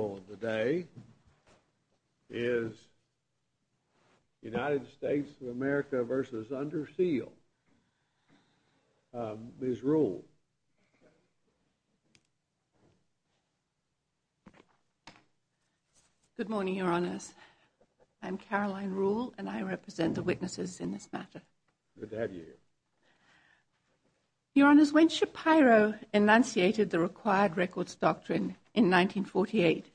of the day is United States of America v. Under Seal, Ms. Ruhle. Good morning, Your Honors. I'm Caroline Ruhle, and I represent the witnesses in this matter. Good to have you here. Your Honors, when Shapiro enunciated the required records doctrine in 1948,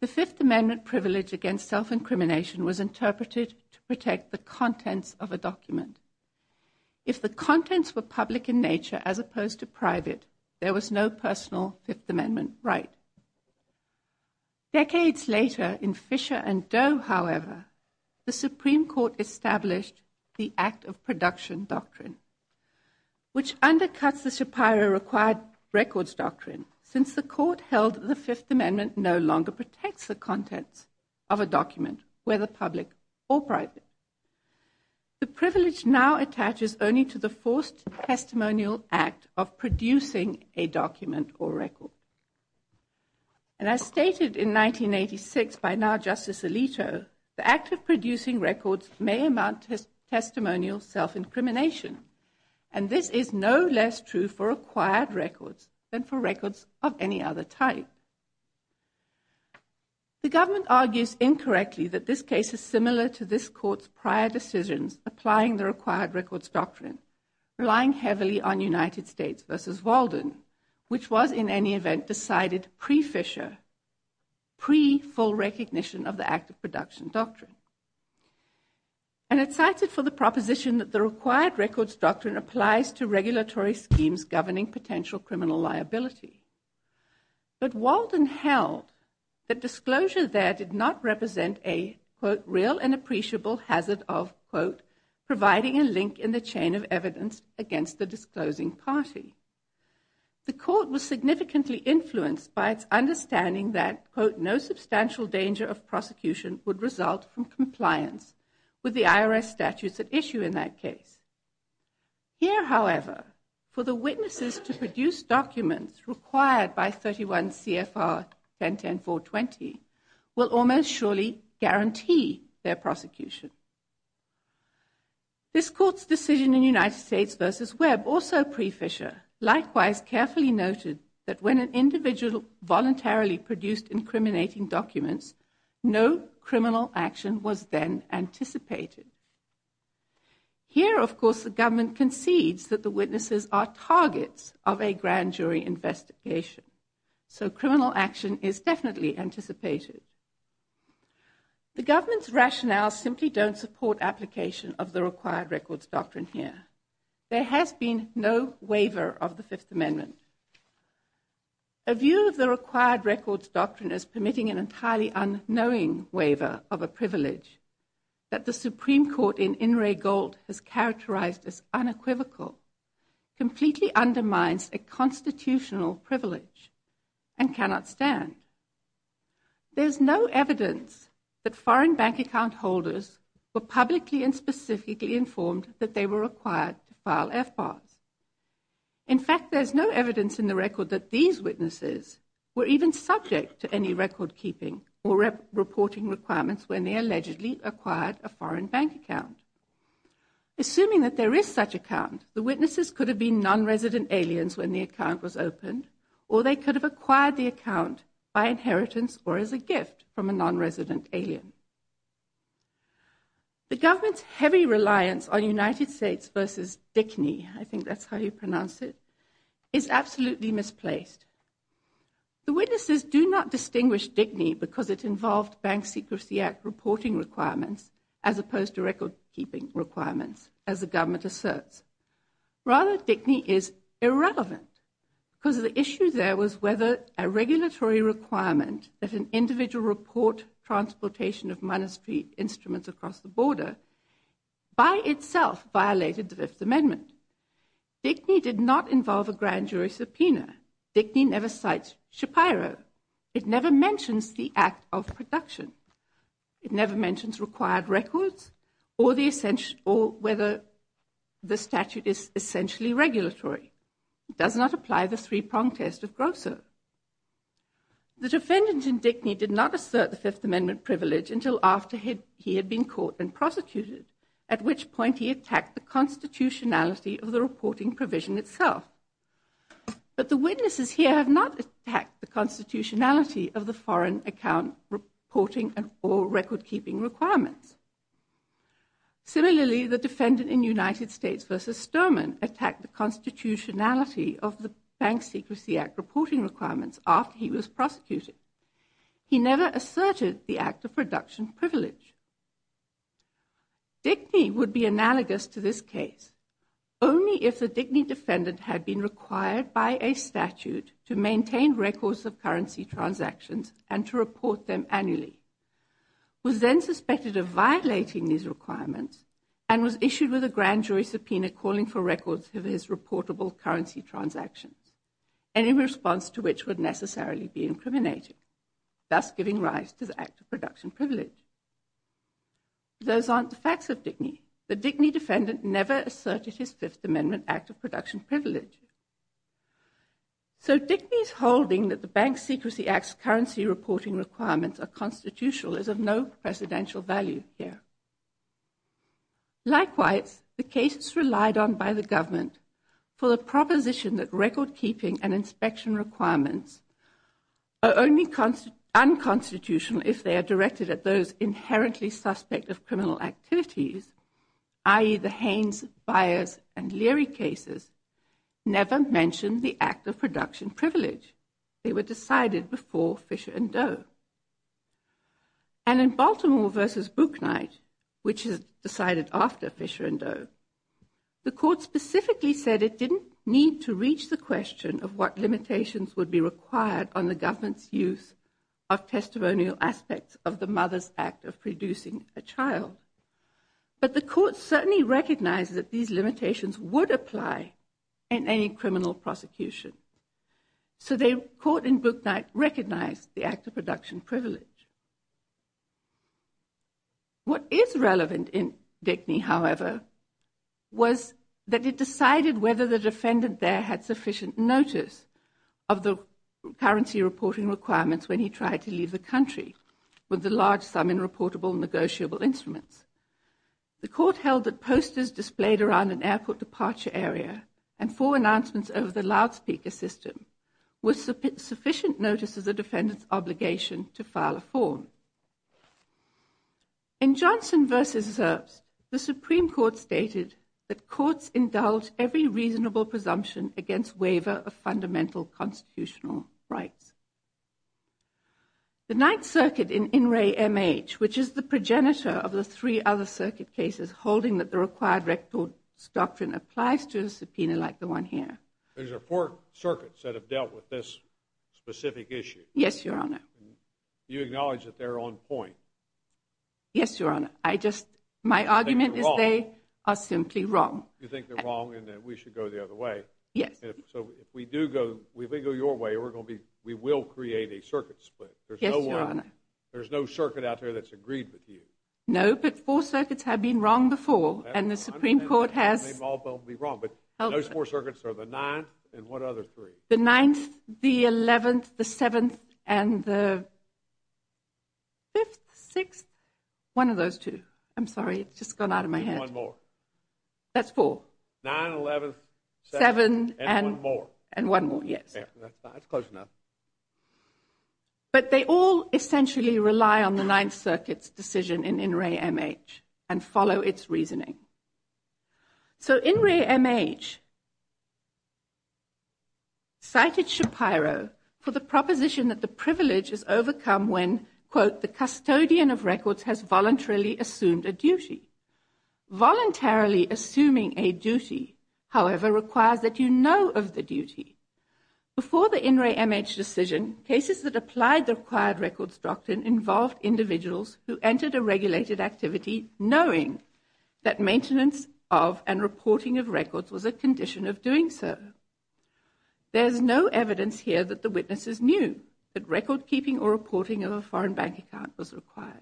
the Fifth Amendment privilege against self-incrimination was interpreted to protect the contents of a document. If the contents were public in nature as opposed to private, there was no personal Fifth Amendment right. Decades later, in Fisher v. Doe, however, the Supreme Court established the act of production doctrine, which undercuts the Shapiro required records doctrine, since the court held the Fifth Amendment no longer protects the contents of a document, whether public or private. The privilege now attaches only to the forced testimonial act of producing a document or record. And as stated in 1986 by now Justice Alito, the act of producing records may amount to testimonial self-incrimination, and this is no less true for acquired records than for records of any other type. The government argues incorrectly that this case is similar to this court's prior decisions applying the required records doctrine, relying heavily on United States v. Walden, which was in any event decided pre-Fisher, pre-full recognition of the act of production doctrine. And it cited for the proposition that the required records doctrine applies to regulatory schemes governing potential criminal liability. But Walden held that disclosure there did not represent a, quote, real and appreciable hazard of, quote, providing a link in the chain of evidence against the disclosing party. The court was significantly influenced by its understanding that, quote, no substantial danger of prosecution would result from compliance with the IRS statutes at issue in that case. Here, however, for the witnesses to produce documents required by 31 CFR 1010420 will almost surely guarantee their prosecution. This court's decision in United States v. Webb, also pre-Fisher, likewise carefully noted that when an individual voluntarily produced incriminating documents, no criminal action was then anticipated. Here, of course, the government concedes that the witnesses are targets of a grand jury investigation. So criminal action is definitely anticipated. The government's rationale simply don't support application of the required records doctrine here. There has been no waiver of the Fifth Amendment. A view of the required records doctrine is permitting an entirely unknowing waiver of a privilege that the Supreme Court in In re Gold has characterized as unequivocal, completely undermines a constitutional privilege and cannot stand. There's no evidence that foreign bank account holders were publicly and specifically informed that they were required to file FBARs. In fact, there's no evidence in the record that these witnesses were even subject to any record keeping or reporting requirements when they allegedly acquired a foreign bank account. Assuming that there is such account, the witnesses could have been non-resident aliens when the account was opened or they could have acquired the account by inheritance or as a gift from a non-resident alien. The government's heavy reliance on United States v. Dickney, I think that's how you pronounce it, is absolutely misplaced. The witnesses do not distinguish Dickney because it involved Bank Secrecy Act reporting requirements as opposed to record keeping requirements as the government asserts. Rather, Dickney is irrelevant because the issue there was whether a regulatory requirement that an individual report transportation of monastery instruments across the border by itself violated the Fifth Amendment. Dickney did not involve a grand jury subpoena. Dickney never cites Shapiro. It never mentions the act of production. It never mentions required records or whether the statute is essentially regulatory. It does not apply the three-prong test of Grosso. The defendant in Dickney did not assert the Fifth Amendment privilege until after he had been caught and prosecuted at which point he attacked the constitutionality of the reporting provision itself. But the witnesses here have not attacked the constitutionality of the foreign account reporting or record keeping requirements. Similarly, the defendant in United States v. Sturman attacked the constitutionality of the Bank Secrecy Act reporting requirements after he was prosecuted. He never asserted the act of production privilege. Dickney would be analogous to this case only if the Dickney defendant had been required by a statute to maintain records of currency transactions and to report them annually, was then suspected of violating these requirements, and was issued with a grand jury subpoena calling for records of his reportable currency transactions, any response to which would necessarily be incriminating, thus giving rise to the act of production privilege. Those aren't the facts of Dickney. The Dickney defendant never asserted his Fifth Amendment act of production privilege. So Dickney's holding that the Bank Secrecy Act's currency reporting requirements are constitutional is of no precedential value here. Likewise, the cases relied on by the government for the proposition that record keeping and inspection requirements are only unconstitutional if they are directed at those inherently suspect of criminal activities, i.e., the Haynes, Byers, and Leary cases, never mention the act of production privilege. They were decided before Fisher and Doe. And in Baltimore v. Bucknight, which is decided after Fisher and Doe, the court specifically said it didn't need to reach the question of what limitations would be required on the government's use of testimonial aspects of the Mother's Act of producing a child. But the court certainly recognized that these limitations would apply in any criminal prosecution. So the court in Bucknight recognized the act of production privilege. What is relevant in Dickney, however, was that it decided whether the defendant there had sufficient notice of the currency reporting requirements when he tried to leave the country with a large sum in reportable negotiable instruments. The court held that posters displayed around an airport departure area and four announcements over the loudspeaker system were sufficient notice of the defendant's obligation to file a form. In Johnson v. Zerbst, the Supreme Court stated that courts indulge every reasonable presumption against waiver of fundamental constitutional rights. The Ninth Circuit in Inouye, MH, which is the progenitor of the three other circuit cases holding that the required records doctrine applies to a subpoena like the one here. There's four circuits that have dealt with this specific issue. Yes, Your Honor. You acknowledge that they're on point. Yes, Your Honor. I just, my argument is they are simply wrong. You think they're wrong and that we should go the other way. Yes. So if we do go, if we go your way, we will create a circuit split. Yes, Your Honor. There's no one, there's no circuit out there that's agreed with you. No, but four circuits have been wrong before and the Supreme Court has. They've all been wrong, but those four circuits are the 9th and what other three? The 9th, the 11th, the 7th, and the 5th, 6th, one of those two. I'm sorry, it's just gone out of my head. And one more. That's four. 9th, 11th, 7th, and one more. And one more, yes. That's close enough. But they all essentially rely on the 9th Circuit's decision in In Re M.H. and follow its reasoning. So In Re M.H. cited Shapiro for the proposition that the privilege is overcome when, quote, the custodian of records has voluntarily assumed a duty. Voluntarily assuming a duty, however, requires that you know of the duty. Before the In Re M.H. decision, cases that applied the required records doctrine involved individuals who entered a regulated activity knowing that maintenance of and reporting of records was a condition of doing so. There's no evidence here that the witnesses knew that record keeping or reporting of a foreign bank account was required.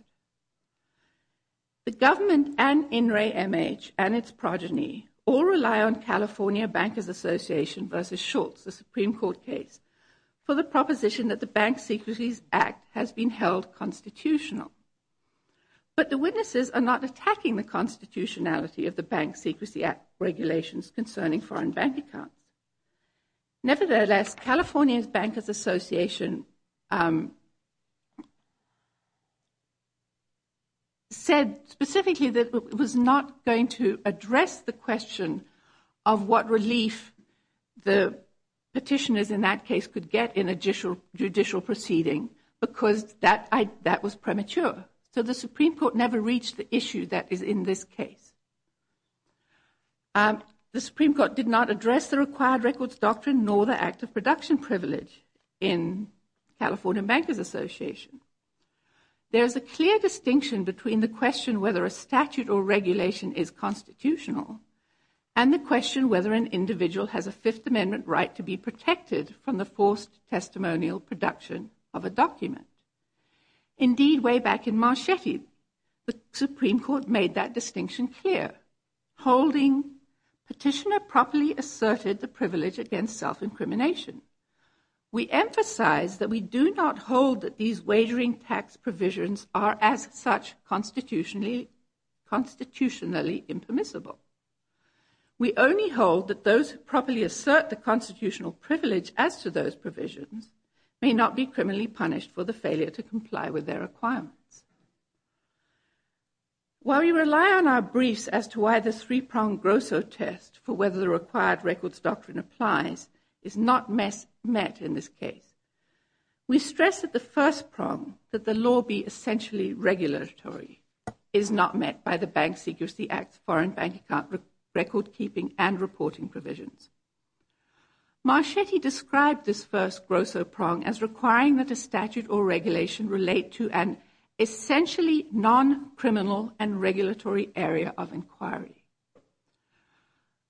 The government and In Re M.H. and its progeny all rely on California Bankers Association versus Schultz, the Supreme Court case, for the proposition that the Bank Secrecy Act has been held constitutional. But the witnesses are not attacking the constitutionality of the Bank Secrecy Act regulations concerning foreign bank accounts. Nevertheless, California's Bankers Association said specifically that it was not going to address the question of what relief the petitioners in that case could get in a judicial proceeding because that was premature. So the Supreme Court never reached the issue that is in this case. The Supreme Court did not address the required records doctrine nor the act of production privilege in California Bankers Association. There's a clear distinction between the question whether a statute or regulation is constitutional and the question whether an individual has a Fifth Amendment right to be protected from the forced testimonial production of a document. Indeed, way back in Marchetti, the Supreme Court made that distinction clear. Holding petitioner properly asserted the privilege against self-incrimination. We emphasize that we do not hold that these wagering tax provisions are as such constitutionally impermissible. We only hold that those who properly assert the constitutional privilege as to those provisions may not be criminally punished for the failure to comply with their requirements. While we rely on our briefs as to why the three-pronged Grosso test for whether the required records doctrine applies is not met in this case, we stress that the first prong, that the law be essentially regulatory, is not met by the Bank Secrecy Act's foreign bank account record-keeping and reporting provisions. Marchetti described this first Grosso prong as requiring that a statute or regulation relate to an essentially non-criminal and regulatory area of inquiry.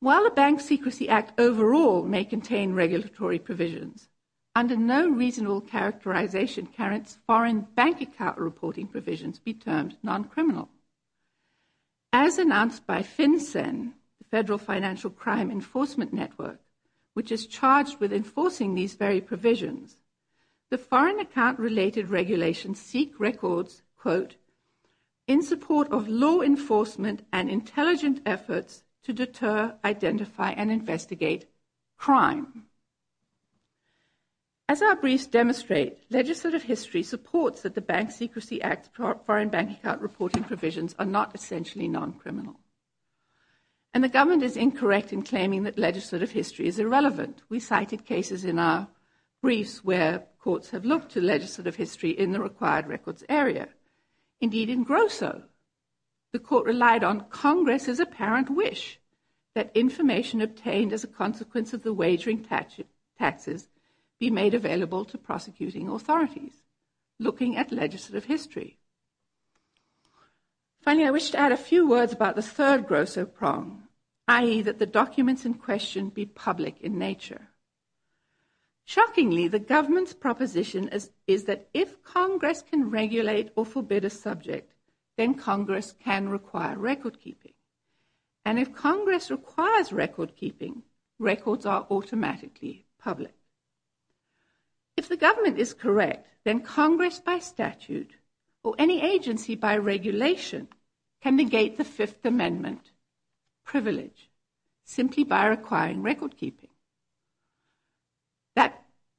While the Bank Secrecy Act overall may contain regulatory provisions, under no reasonable characterization can its foreign bank account reporting provisions be termed non-criminal. As announced by FinCEN, the Federal Financial Crime Enforcement Network, which is charged with enforcing these very provisions, the foreign account-related regulations seek records, quote, in support of law enforcement and intelligent efforts to deter, identify, and investigate crime. As our briefs demonstrate, legislative history supports that the Bank Secrecy Act's foreign bank account reporting provisions are not essentially non-criminal. And the government is incorrect in claiming that legislative history is irrelevant. We cited cases in our briefs where courts have looked to legislative history in the required records area. Indeed, in Grosso, the court relied on Congress's apparent wish that information obtained as a consequence of the wagering taxes be made available to prosecuting authorities looking at legislative history. Finally, I wish to add a few words about the third Grosso prong, i.e., that the documents in question be public in nature. Shockingly, the government's proposition is that if Congress can regulate or forbid a subject, then Congress can require recordkeeping. And if Congress requires recordkeeping, records are automatically public. If the government is correct, then Congress by statute or any agency by regulation can negate the Fifth Amendment privilege simply by requiring recordkeeping.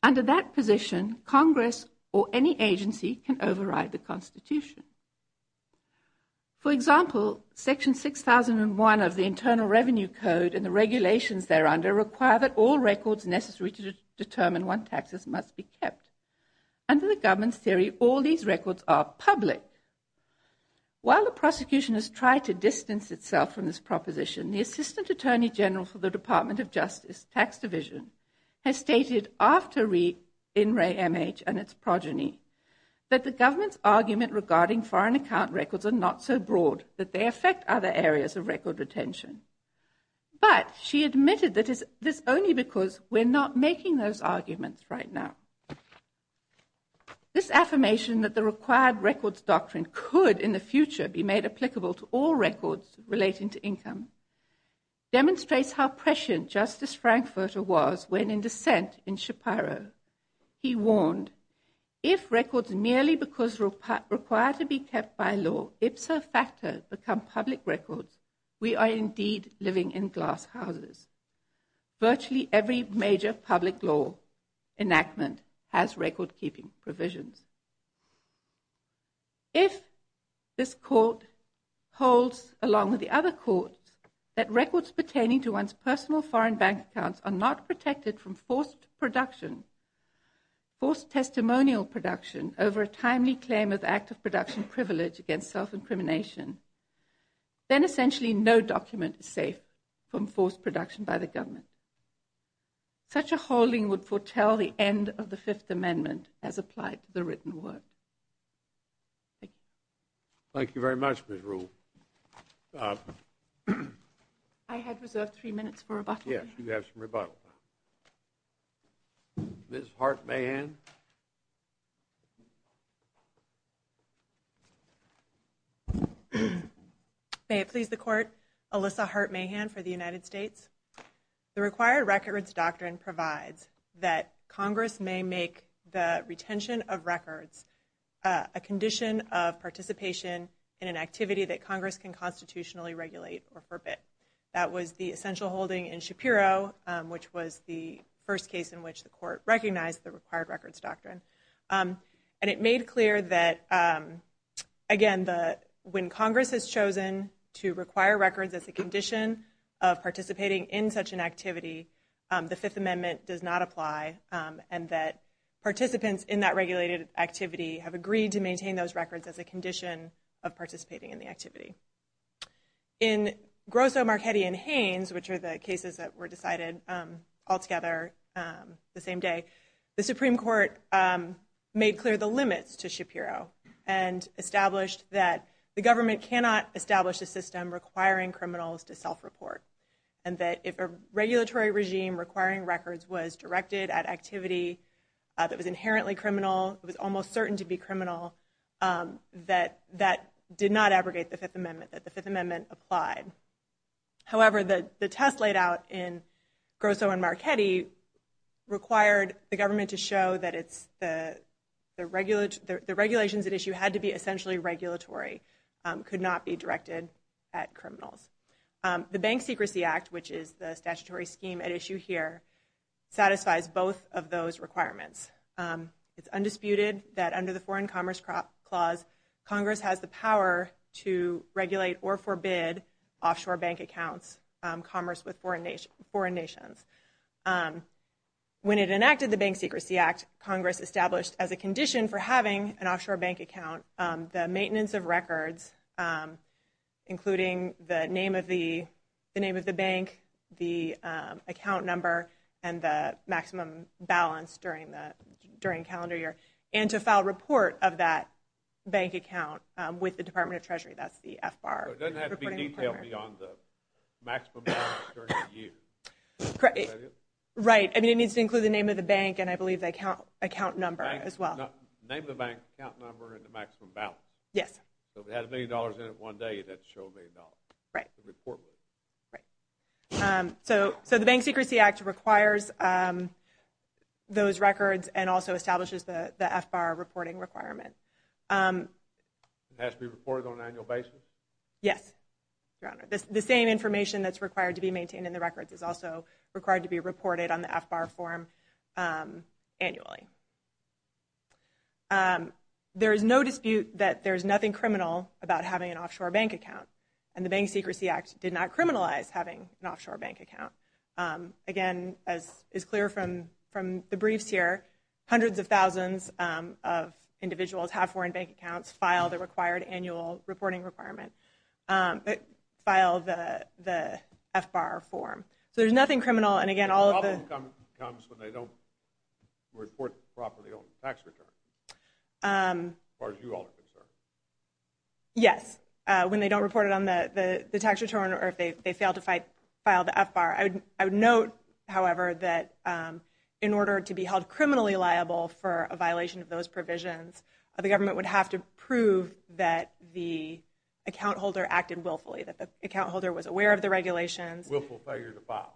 Under that position, Congress or any agency can override the Constitution. For example, Section 6001 of the Internal Revenue Code and the regulations thereunder require that all records necessary to determine what taxes must be kept. Under the government's theory, all these records are public. While the prosecution has tried to distance itself from this proposition, the Assistant Attorney General for the Department of Justice, Tax Division, has stated after re-in re-MH and its progeny that the government's argument regarding foreign account records are not so broad that they affect other areas of record retention. But she admitted that it's only because we're not making those arguments right now. This affirmation that the required records doctrine could in the future be made applicable to all records relating to income demonstrates how prescient Justice Frankfurter was when in dissent in Shapiro. He warned, if records merely because required to be kept by law ipso facto become public records, we are indeed living in glass houses. Virtually every major public law enactment has record-keeping provisions. If this court holds, along with the other courts, that records pertaining to one's personal foreign bank accounts are not protected from forced production, forced testimonial production over a timely claim of active production privilege against self-incrimination, then essentially no document is safe from forced production by the government. Such a holding would foretell the end of the Fifth Amendment as applied to the written word. Thank you. Thank you very much, Ms. Ruhl. I had reserved three minutes for rebuttal. Ms. Hart-Mahan. May it please the court, Alyssa Hart-Mahan for the United States. The required records doctrine provides that Congress may make the retention of records a condition of participation in an activity that Congress can constitutionally regulate or forbid. That was the essential holding in Shapiro, which was the first case in which the court recognized the required records. And it made clear that, again, when Congress has chosen to require records as a condition of participating in such an activity, the Fifth Amendment does not apply and that participants in that regulated activity have agreed to maintain those records as a condition of participating in the activity. In Grosso, Marchetti, and Haynes, which are the cases that were decided all year, the court made clear the limits to Shapiro and established that the government cannot establish a system requiring criminals to self-report and that if a regulatory regime requiring records was directed at activity that was inherently criminal, it was almost certain to be criminal, that that did not abrogate the Fifth Amendment, that the Fifth Amendment applied. However, the test laid out in Grosso and Marchetti required the government to show that the regulations at issue had to be essentially regulatory, could not be directed at criminals. The Bank Secrecy Act, which is the statutory scheme at issue here, satisfies both of those requirements. It's undisputed that under the Foreign Commerce Clause, Congress has the power to regulate or forbid offshore bank accounts, commerce with foreign nations. When it enacted the Bank Secrecy Act, Congress established as a condition for having an offshore bank account, the maintenance of records, including the name of the bank, the account number, and the maximum balance during calendar year, and to file a report of that bank account with the Department of Treasury. That's the FBAR. So it doesn't have to be detailed beyond the maximum balance during the year. Correct. Is that it? Right. I mean, it needs to include the name of the bank and I believe the account number as well. Name of the bank, account number, and the maximum balance. Yes. So if it had a million dollars in it one day, it had to show a million dollars. Right. To report with it. Right. So the Bank Secrecy Act requires those records and also establishes the FBAR reporting requirement. It has to be reported on an annual basis? Yes, Your Honor. The same information that's required to be maintained in the records is also required to be reported on the FBAR form annually. There is no dispute that there is nothing criminal about having an offshore bank account, and the Bank Secrecy Act did not criminalize having an offshore bank account. Again, as is clear from the briefs here, hundreds of thousands of individuals have foreign bank accounts, file the required annual reporting requirement, but file the FBAR form. So there's nothing criminal, and again, all of the… The problem comes when they don't report properly on the tax return, as far as you all are concerned. Yes, when they don't report it on the tax return or if they fail to file the FBAR. I would note, however, that in order to be held criminally liable for a failure to file the FBAR, the government would have to prove that the account holder acted willfully, that the account holder was aware of the regulations. Willful failure to file.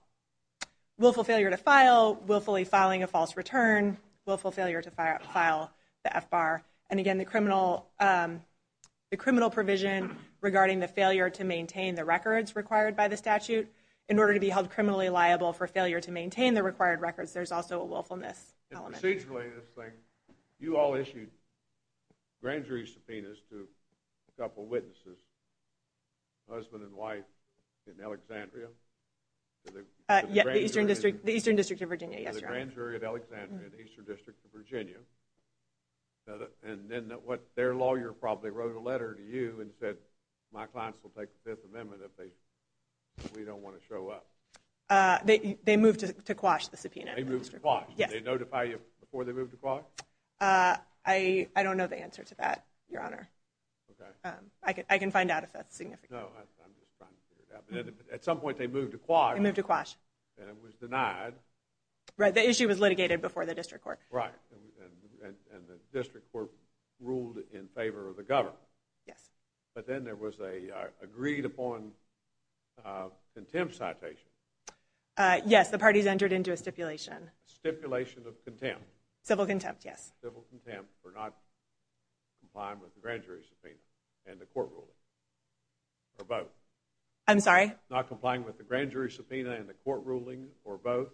Willful failure to file, willfully filing a false return, willful failure to file the FBAR, and again, the criminal provision regarding the failure to maintain the records required by the statute. In order to be held criminally liable for failure to maintain the required records, there's also a willfulness element. Procedurally, this thing, you all issued grand jury subpoenas to a couple witnesses, husband and wife in Alexandria. The Eastern District of Virginia, yes, Your Honor. The Grand Jury of Alexandria, the Eastern District of Virginia, and then their lawyer probably wrote a letter to you and said, my clients will take the Fifth Amendment if we don't want to show up. They moved to quash the subpoena. They moved to quash. Yes. Did they notify you before they moved to quash? I don't know the answer to that, Your Honor. Okay. I can find out if that's significant. No, I'm just trying to figure it out. But at some point they moved to quash. They moved to quash. And it was denied. Right, the issue was litigated before the district court. Right, and the district court ruled in favor of the government. Yes. But then there was a agreed upon contempt citation. Yes, the parties entered into a stipulation. Stipulation of contempt. Civil contempt, yes. Civil contempt for not complying with the Grand Jury subpoena and the court ruling, or both. I'm sorry? Not complying with the Grand Jury subpoena and the court ruling, or both.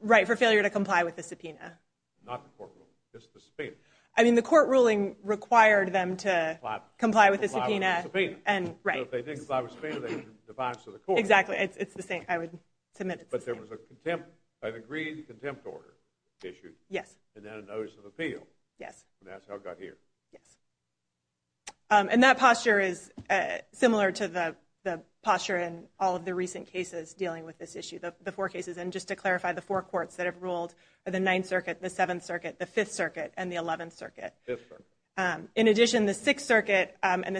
Right, for failure to comply with the subpoena. Not the court ruling, just the subpoena. I mean, the court ruling required them to comply with the subpoena. So if they didn't comply with the subpoena, they were defiant to the court. Exactly. It's the same. I would submit it's the same. But there was an agreed contempt order issued. Yes. And then a notice of appeal. Yes. And that's how it got here. Yes. And that posture is similar to the posture in all of the recent cases dealing with this issue, the four cases. And just to clarify, the four courts that have ruled are the Ninth Circuit, the Seventh Circuit, the Fifth Circuit, and the Eleventh Circuit. Fifth Circuit. In addition, the Sixth Circuit in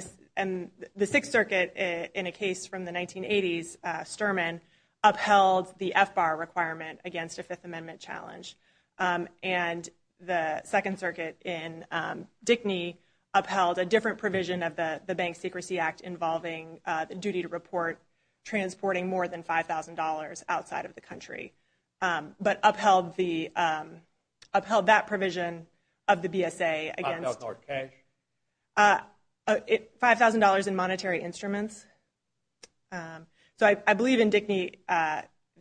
a case from the 1980s, upheld the FBAR requirement against a Fifth Amendment challenge. And the Second Circuit in Dickney upheld a different provision of the Bank Secrecy Act involving the duty to report transporting more than $5,000 outside of the country. But upheld that provision of the BSA against the $5,000 in monetary instruments. So I believe in Dickney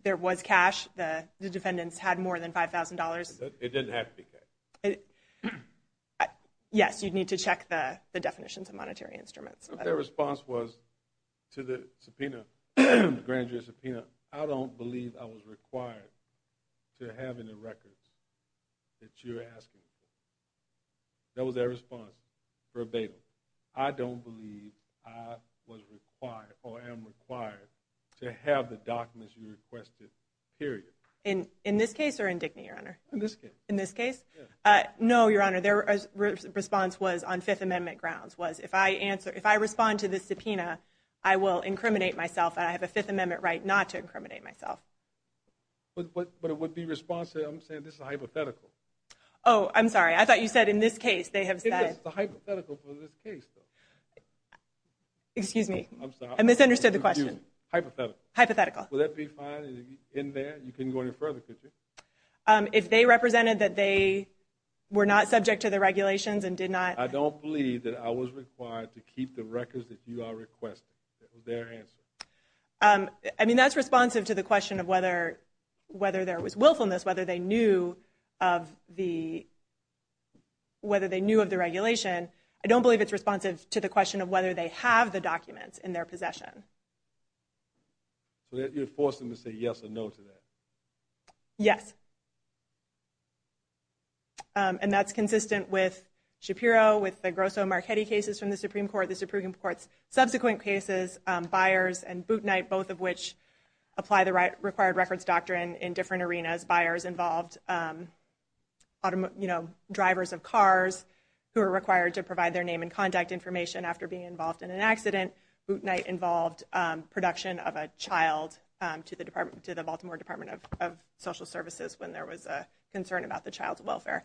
there was cash. The defendants had more than $5,000. It didn't have to be cash. Yes, you'd need to check the definitions of monetary instruments. If their response was to the subpoena, the grand jury subpoena, I don't believe I was required to have any records that you're asking for. That was their response verbatim. So I don't believe I was required or am required to have the documents you requested, period. In this case or in Dickney, Your Honor? In this case. In this case? No, Your Honor, their response was on Fifth Amendment grounds, was if I respond to this subpoena, I will incriminate myself, and I have a Fifth Amendment right not to incriminate myself. But it would be responsive. I'm saying this is hypothetical. Oh, I'm sorry. I thought you said in this case they have said. It's hypothetical for this case, though. Excuse me. I'm sorry. I misunderstood the question. Hypothetical. Hypothetical. Would that be fine in there? You couldn't go any further, could you? If they represented that they were not subject to the regulations and did not. I don't believe that I was required to keep the records that you are requesting. That was their answer. I mean, that's responsive to the question of whether there was willfulness, whether they knew of the regulation. I don't believe it's responsive to the question of whether they have the documents in their possession. So you're forcing them to say yes or no to that? Yes. And that's consistent with Shapiro, with the Grosso Marchetti cases from the Supreme Court, the Supreme Court's subsequent cases, Byers and Bootnight, both of which apply the required records doctrine in different arenas. Byers involved drivers of cars who are required to provide their name and contact information after being involved in an accident. Bootnight involved production of a child to the Baltimore Department of Social Services when there was a concern about the child's welfare.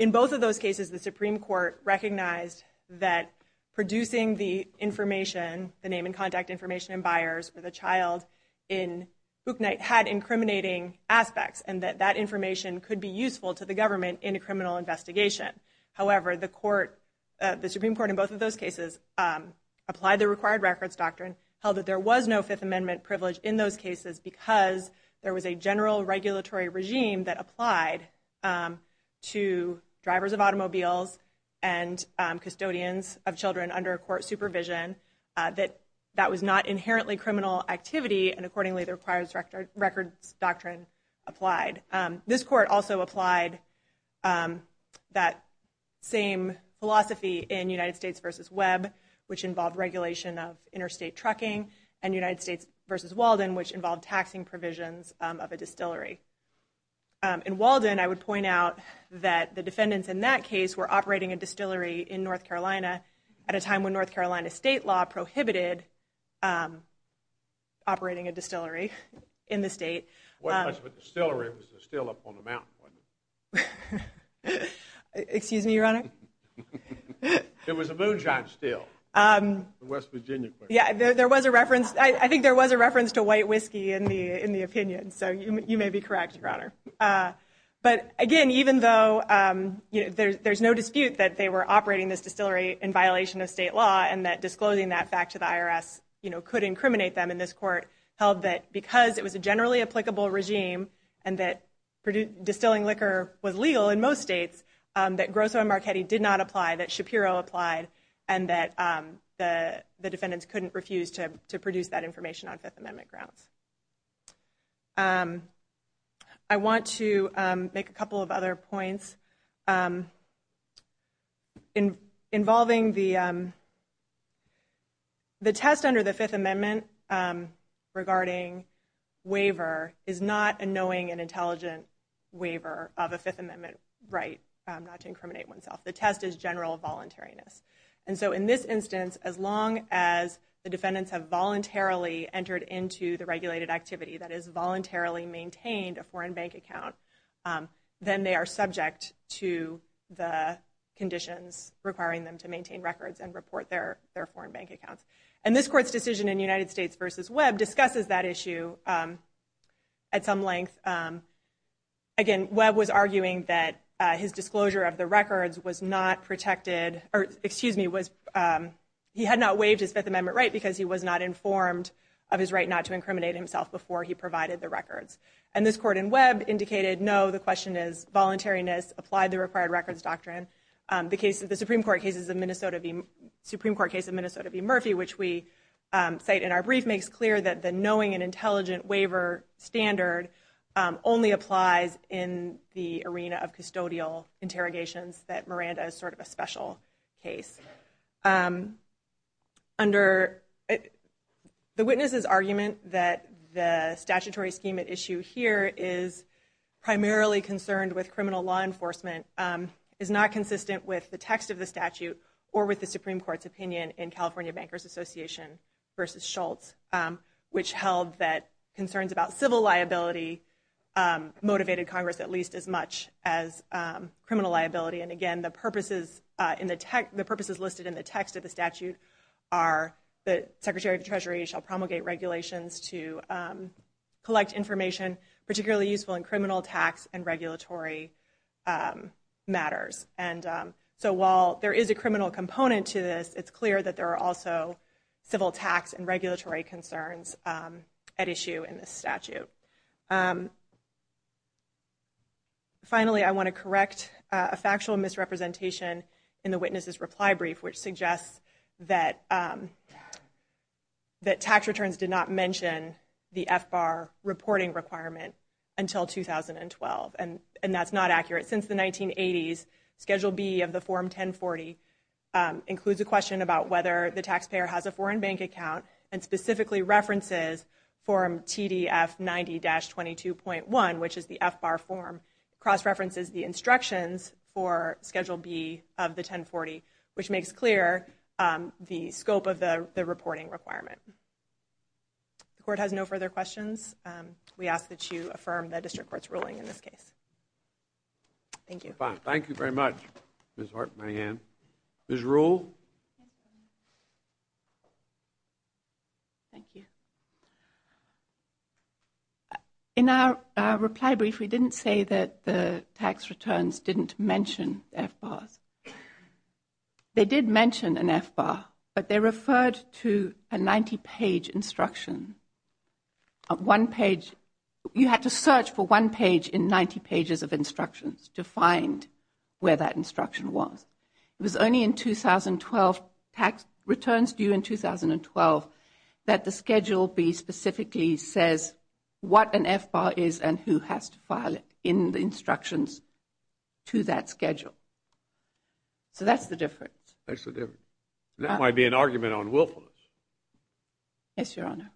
In both of those cases, the Supreme Court recognized that producing the information, the name and contact information in Byers, or the child in Bootnight, had incriminating aspects, and that that information could be useful to the government in a criminal investigation. However, the Supreme Court in both of those cases applied the required records doctrine, held that there was no Fifth Amendment privilege in those cases because there was a general regulatory regime that applied to drivers of automobiles and custodians of children under court supervision, that that was not inherently criminal activity, and accordingly the required records doctrine applied. This court also applied that same philosophy in United States v. Webb, which involved regulation of interstate trucking, and United States v. Walden, which involved taxing provisions of a distillery. In Walden, I would point out that the defendants in that case were operating a distillery in violation of state law, and that state law prohibited operating a distillery in the state. It wasn't much of a distillery. It was a still up on the mountain, wasn't it? Excuse me, Your Honor? It was a moonshine still, the West Virginia question. Yeah, there was a reference. I think there was a reference to white whiskey in the opinion, so you may be correct, Your Honor. But, again, even though there's no dispute that they were operating this distillery in violation of state law, the court held that disclosing that fact to the IRS could incriminate them, and this court held that because it was a generally applicable regime and that distilling liquor was legal in most states, that Grosso and Marchetti did not apply, that Shapiro applied, and that the defendants couldn't refuse to produce that information on Fifth Amendment grounds. I want to make a couple of other points. Involving the test under the Fifth Amendment regarding waiver is not a knowing and intelligent waiver of a Fifth Amendment right not to incriminate oneself. The test is general voluntariness. And so in this instance, as long as the defendants have voluntarily entered into the regulated activity, that is, voluntarily maintained a foreign bank account, then they are subject to the conditions requiring them to maintain records and report their foreign bank accounts. And this court's decision in United States v. Webb discusses that issue at some length. Again, Webb was arguing that his disclosure of the records was not protected, or, excuse me, he had not waived his Fifth Amendment right because he was not informed of his right not to incriminate himself before he provided the records. And this court in Webb indicated, no, the question is voluntariness. Apply the required records doctrine. The Supreme Court case of Minnesota v. Murphy, which we cite in our brief, makes clear that the knowing and intelligent waiver standard only applies in the arena of custodial interrogations, that Miranda is sort of a special case. The witness's argument that the statutory scheme at issue here is primarily concerned with criminal law enforcement is not consistent with the text of the statute or with the Supreme Court's opinion in California Bankers Association v. Schultz, which held that concerns about civil liability motivated Congress at least as much as criminal liability. And again, the purposes listed in the text of the statute are that Secretary of the Treasury shall promulgate regulations to collect information particularly useful in criminal, tax, and regulatory matters. And so while there is a criminal component to this, it's clear that there are also civil tax and regulatory concerns at issue in the statute. Finally, I want to correct a factual misrepresentation in the witness's reply brief, which suggests that tax returns did not mention the FBAR reporting requirement until 2012. And that's not accurate. Since the 1980s, Schedule B of the Form 1040 includes a question about whether the taxpayer has a foreign bank account and specifically references Form TDF 90, dash 22.1, which is the FBAR form cross-references the instructions for Schedule B of the 1040, which makes clear the scope of the reporting requirement. The court has no further questions. We ask that you affirm the district court's ruling in this case. Thank you. Thank you very much. Ms. Hart, my hand. Ms. Rule. Thank you. In our reply brief, we didn't say that the tax returns didn't mention FBARs. They did mention an FBAR, but they referred to a 90-page instruction. One page. You had to search for one page in 90 pages of instructions to find where that instruction was. It was only in 2012, tax returns due in 2012, that the Schedule B specifically says what an FBAR is and who has to file it in the instructions to that schedule. So that's the difference. That's the difference. That might be an argument on willfulness. Yes, Your Honor.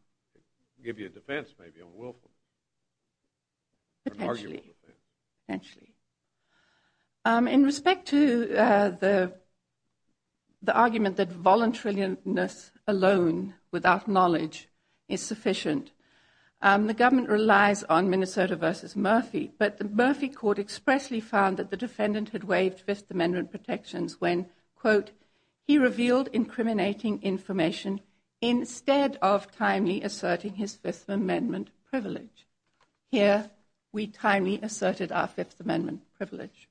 Give you a defense, maybe, on willfulness. Potentially. Potentially. In respect to the argument that voluntariness alone, without knowledge, is sufficient. The government relies on Minnesota v. Murphy, but the Murphy Court expressly found that the defendant had waived Fifth Amendment protections when, quote, he revealed incriminating information instead of timely asserting his Fifth Amendment privilege. Here, we timely asserted our Fifth Amendment privilege.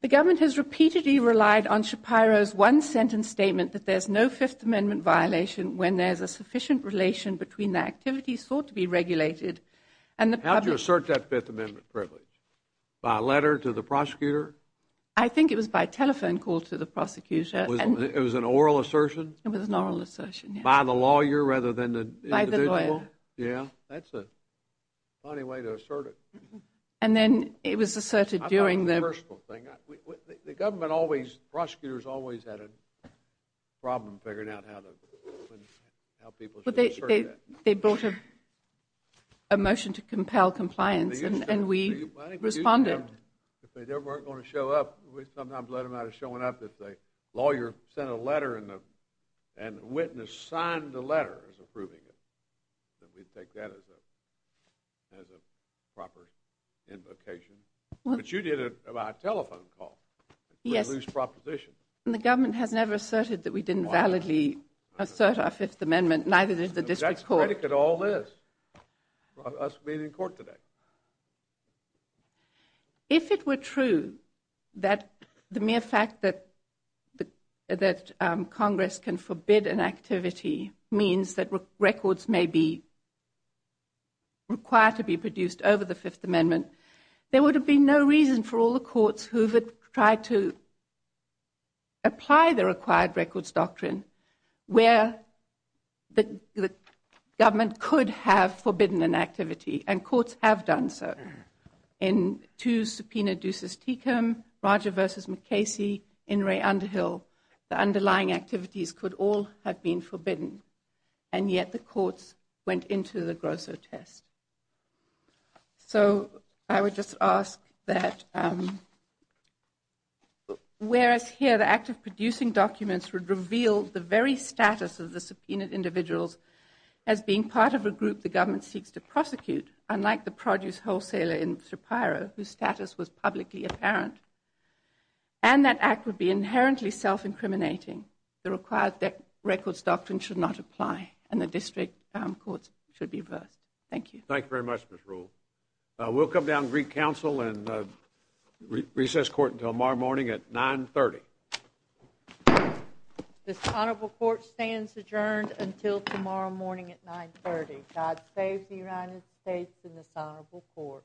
The government has repeatedly relied on Shapiro's one-sentence statement that there's no Fifth Amendment violation when there's a sufficient relation between the activities thought to be regulated and the public. How did you assert that Fifth Amendment privilege? By letter to the prosecutor? I think it was by telephone call to the prosecutor. It was an oral assertion? It was an oral assertion, yes. By the lawyer rather than the individual? By the lawyer. That's a funny way to assert it. And then it was asserted during the. I'll tell you the personal thing. The government always, prosecutors always had a problem figuring out how people should assert that. But they brought a motion to compel compliance and we responded. If they weren't going to show up, we sometimes let them out of showing up. If the lawyer sent a letter and the witness signed the letter as approving it, then we'd take that as a proper invocation. But you did it by telephone call. Yes. It was a loose proposition. And the government has never asserted that we didn't validly assert our Fifth Amendment, neither did the district court. That's a predicate to all this, us being in court today. If it were true that the mere fact that Congress can forbid an activity means that records may be required to be produced over the Fifth Amendment, there would have been no reason for all the courts who have tried to apply the required records doctrine where the government could have forbidden an activity. And courts have done so. In two subpoenas, Deuces Tecum, Roger v. McCasey, and Ray Underhill, the underlying activities could all have been forbidden. And yet the courts went into the Grosso test. So I would just ask that whereas here the act of producing documents would reveal the very status of the subpoenaed individuals as being part of a group the government seeks to prosecute, unlike the produce wholesaler in Shapiro, whose status was publicly apparent, and that act would be inherently self-incriminating, the required records doctrine should not apply, and the district courts should be averse. Thank you. Thank you very much, Ms. Rule. We'll come down to Greek Council and recess court until tomorrow morning at 930. This honorable court stands adjourned until tomorrow morning at 930. God save the United States and this honorable court.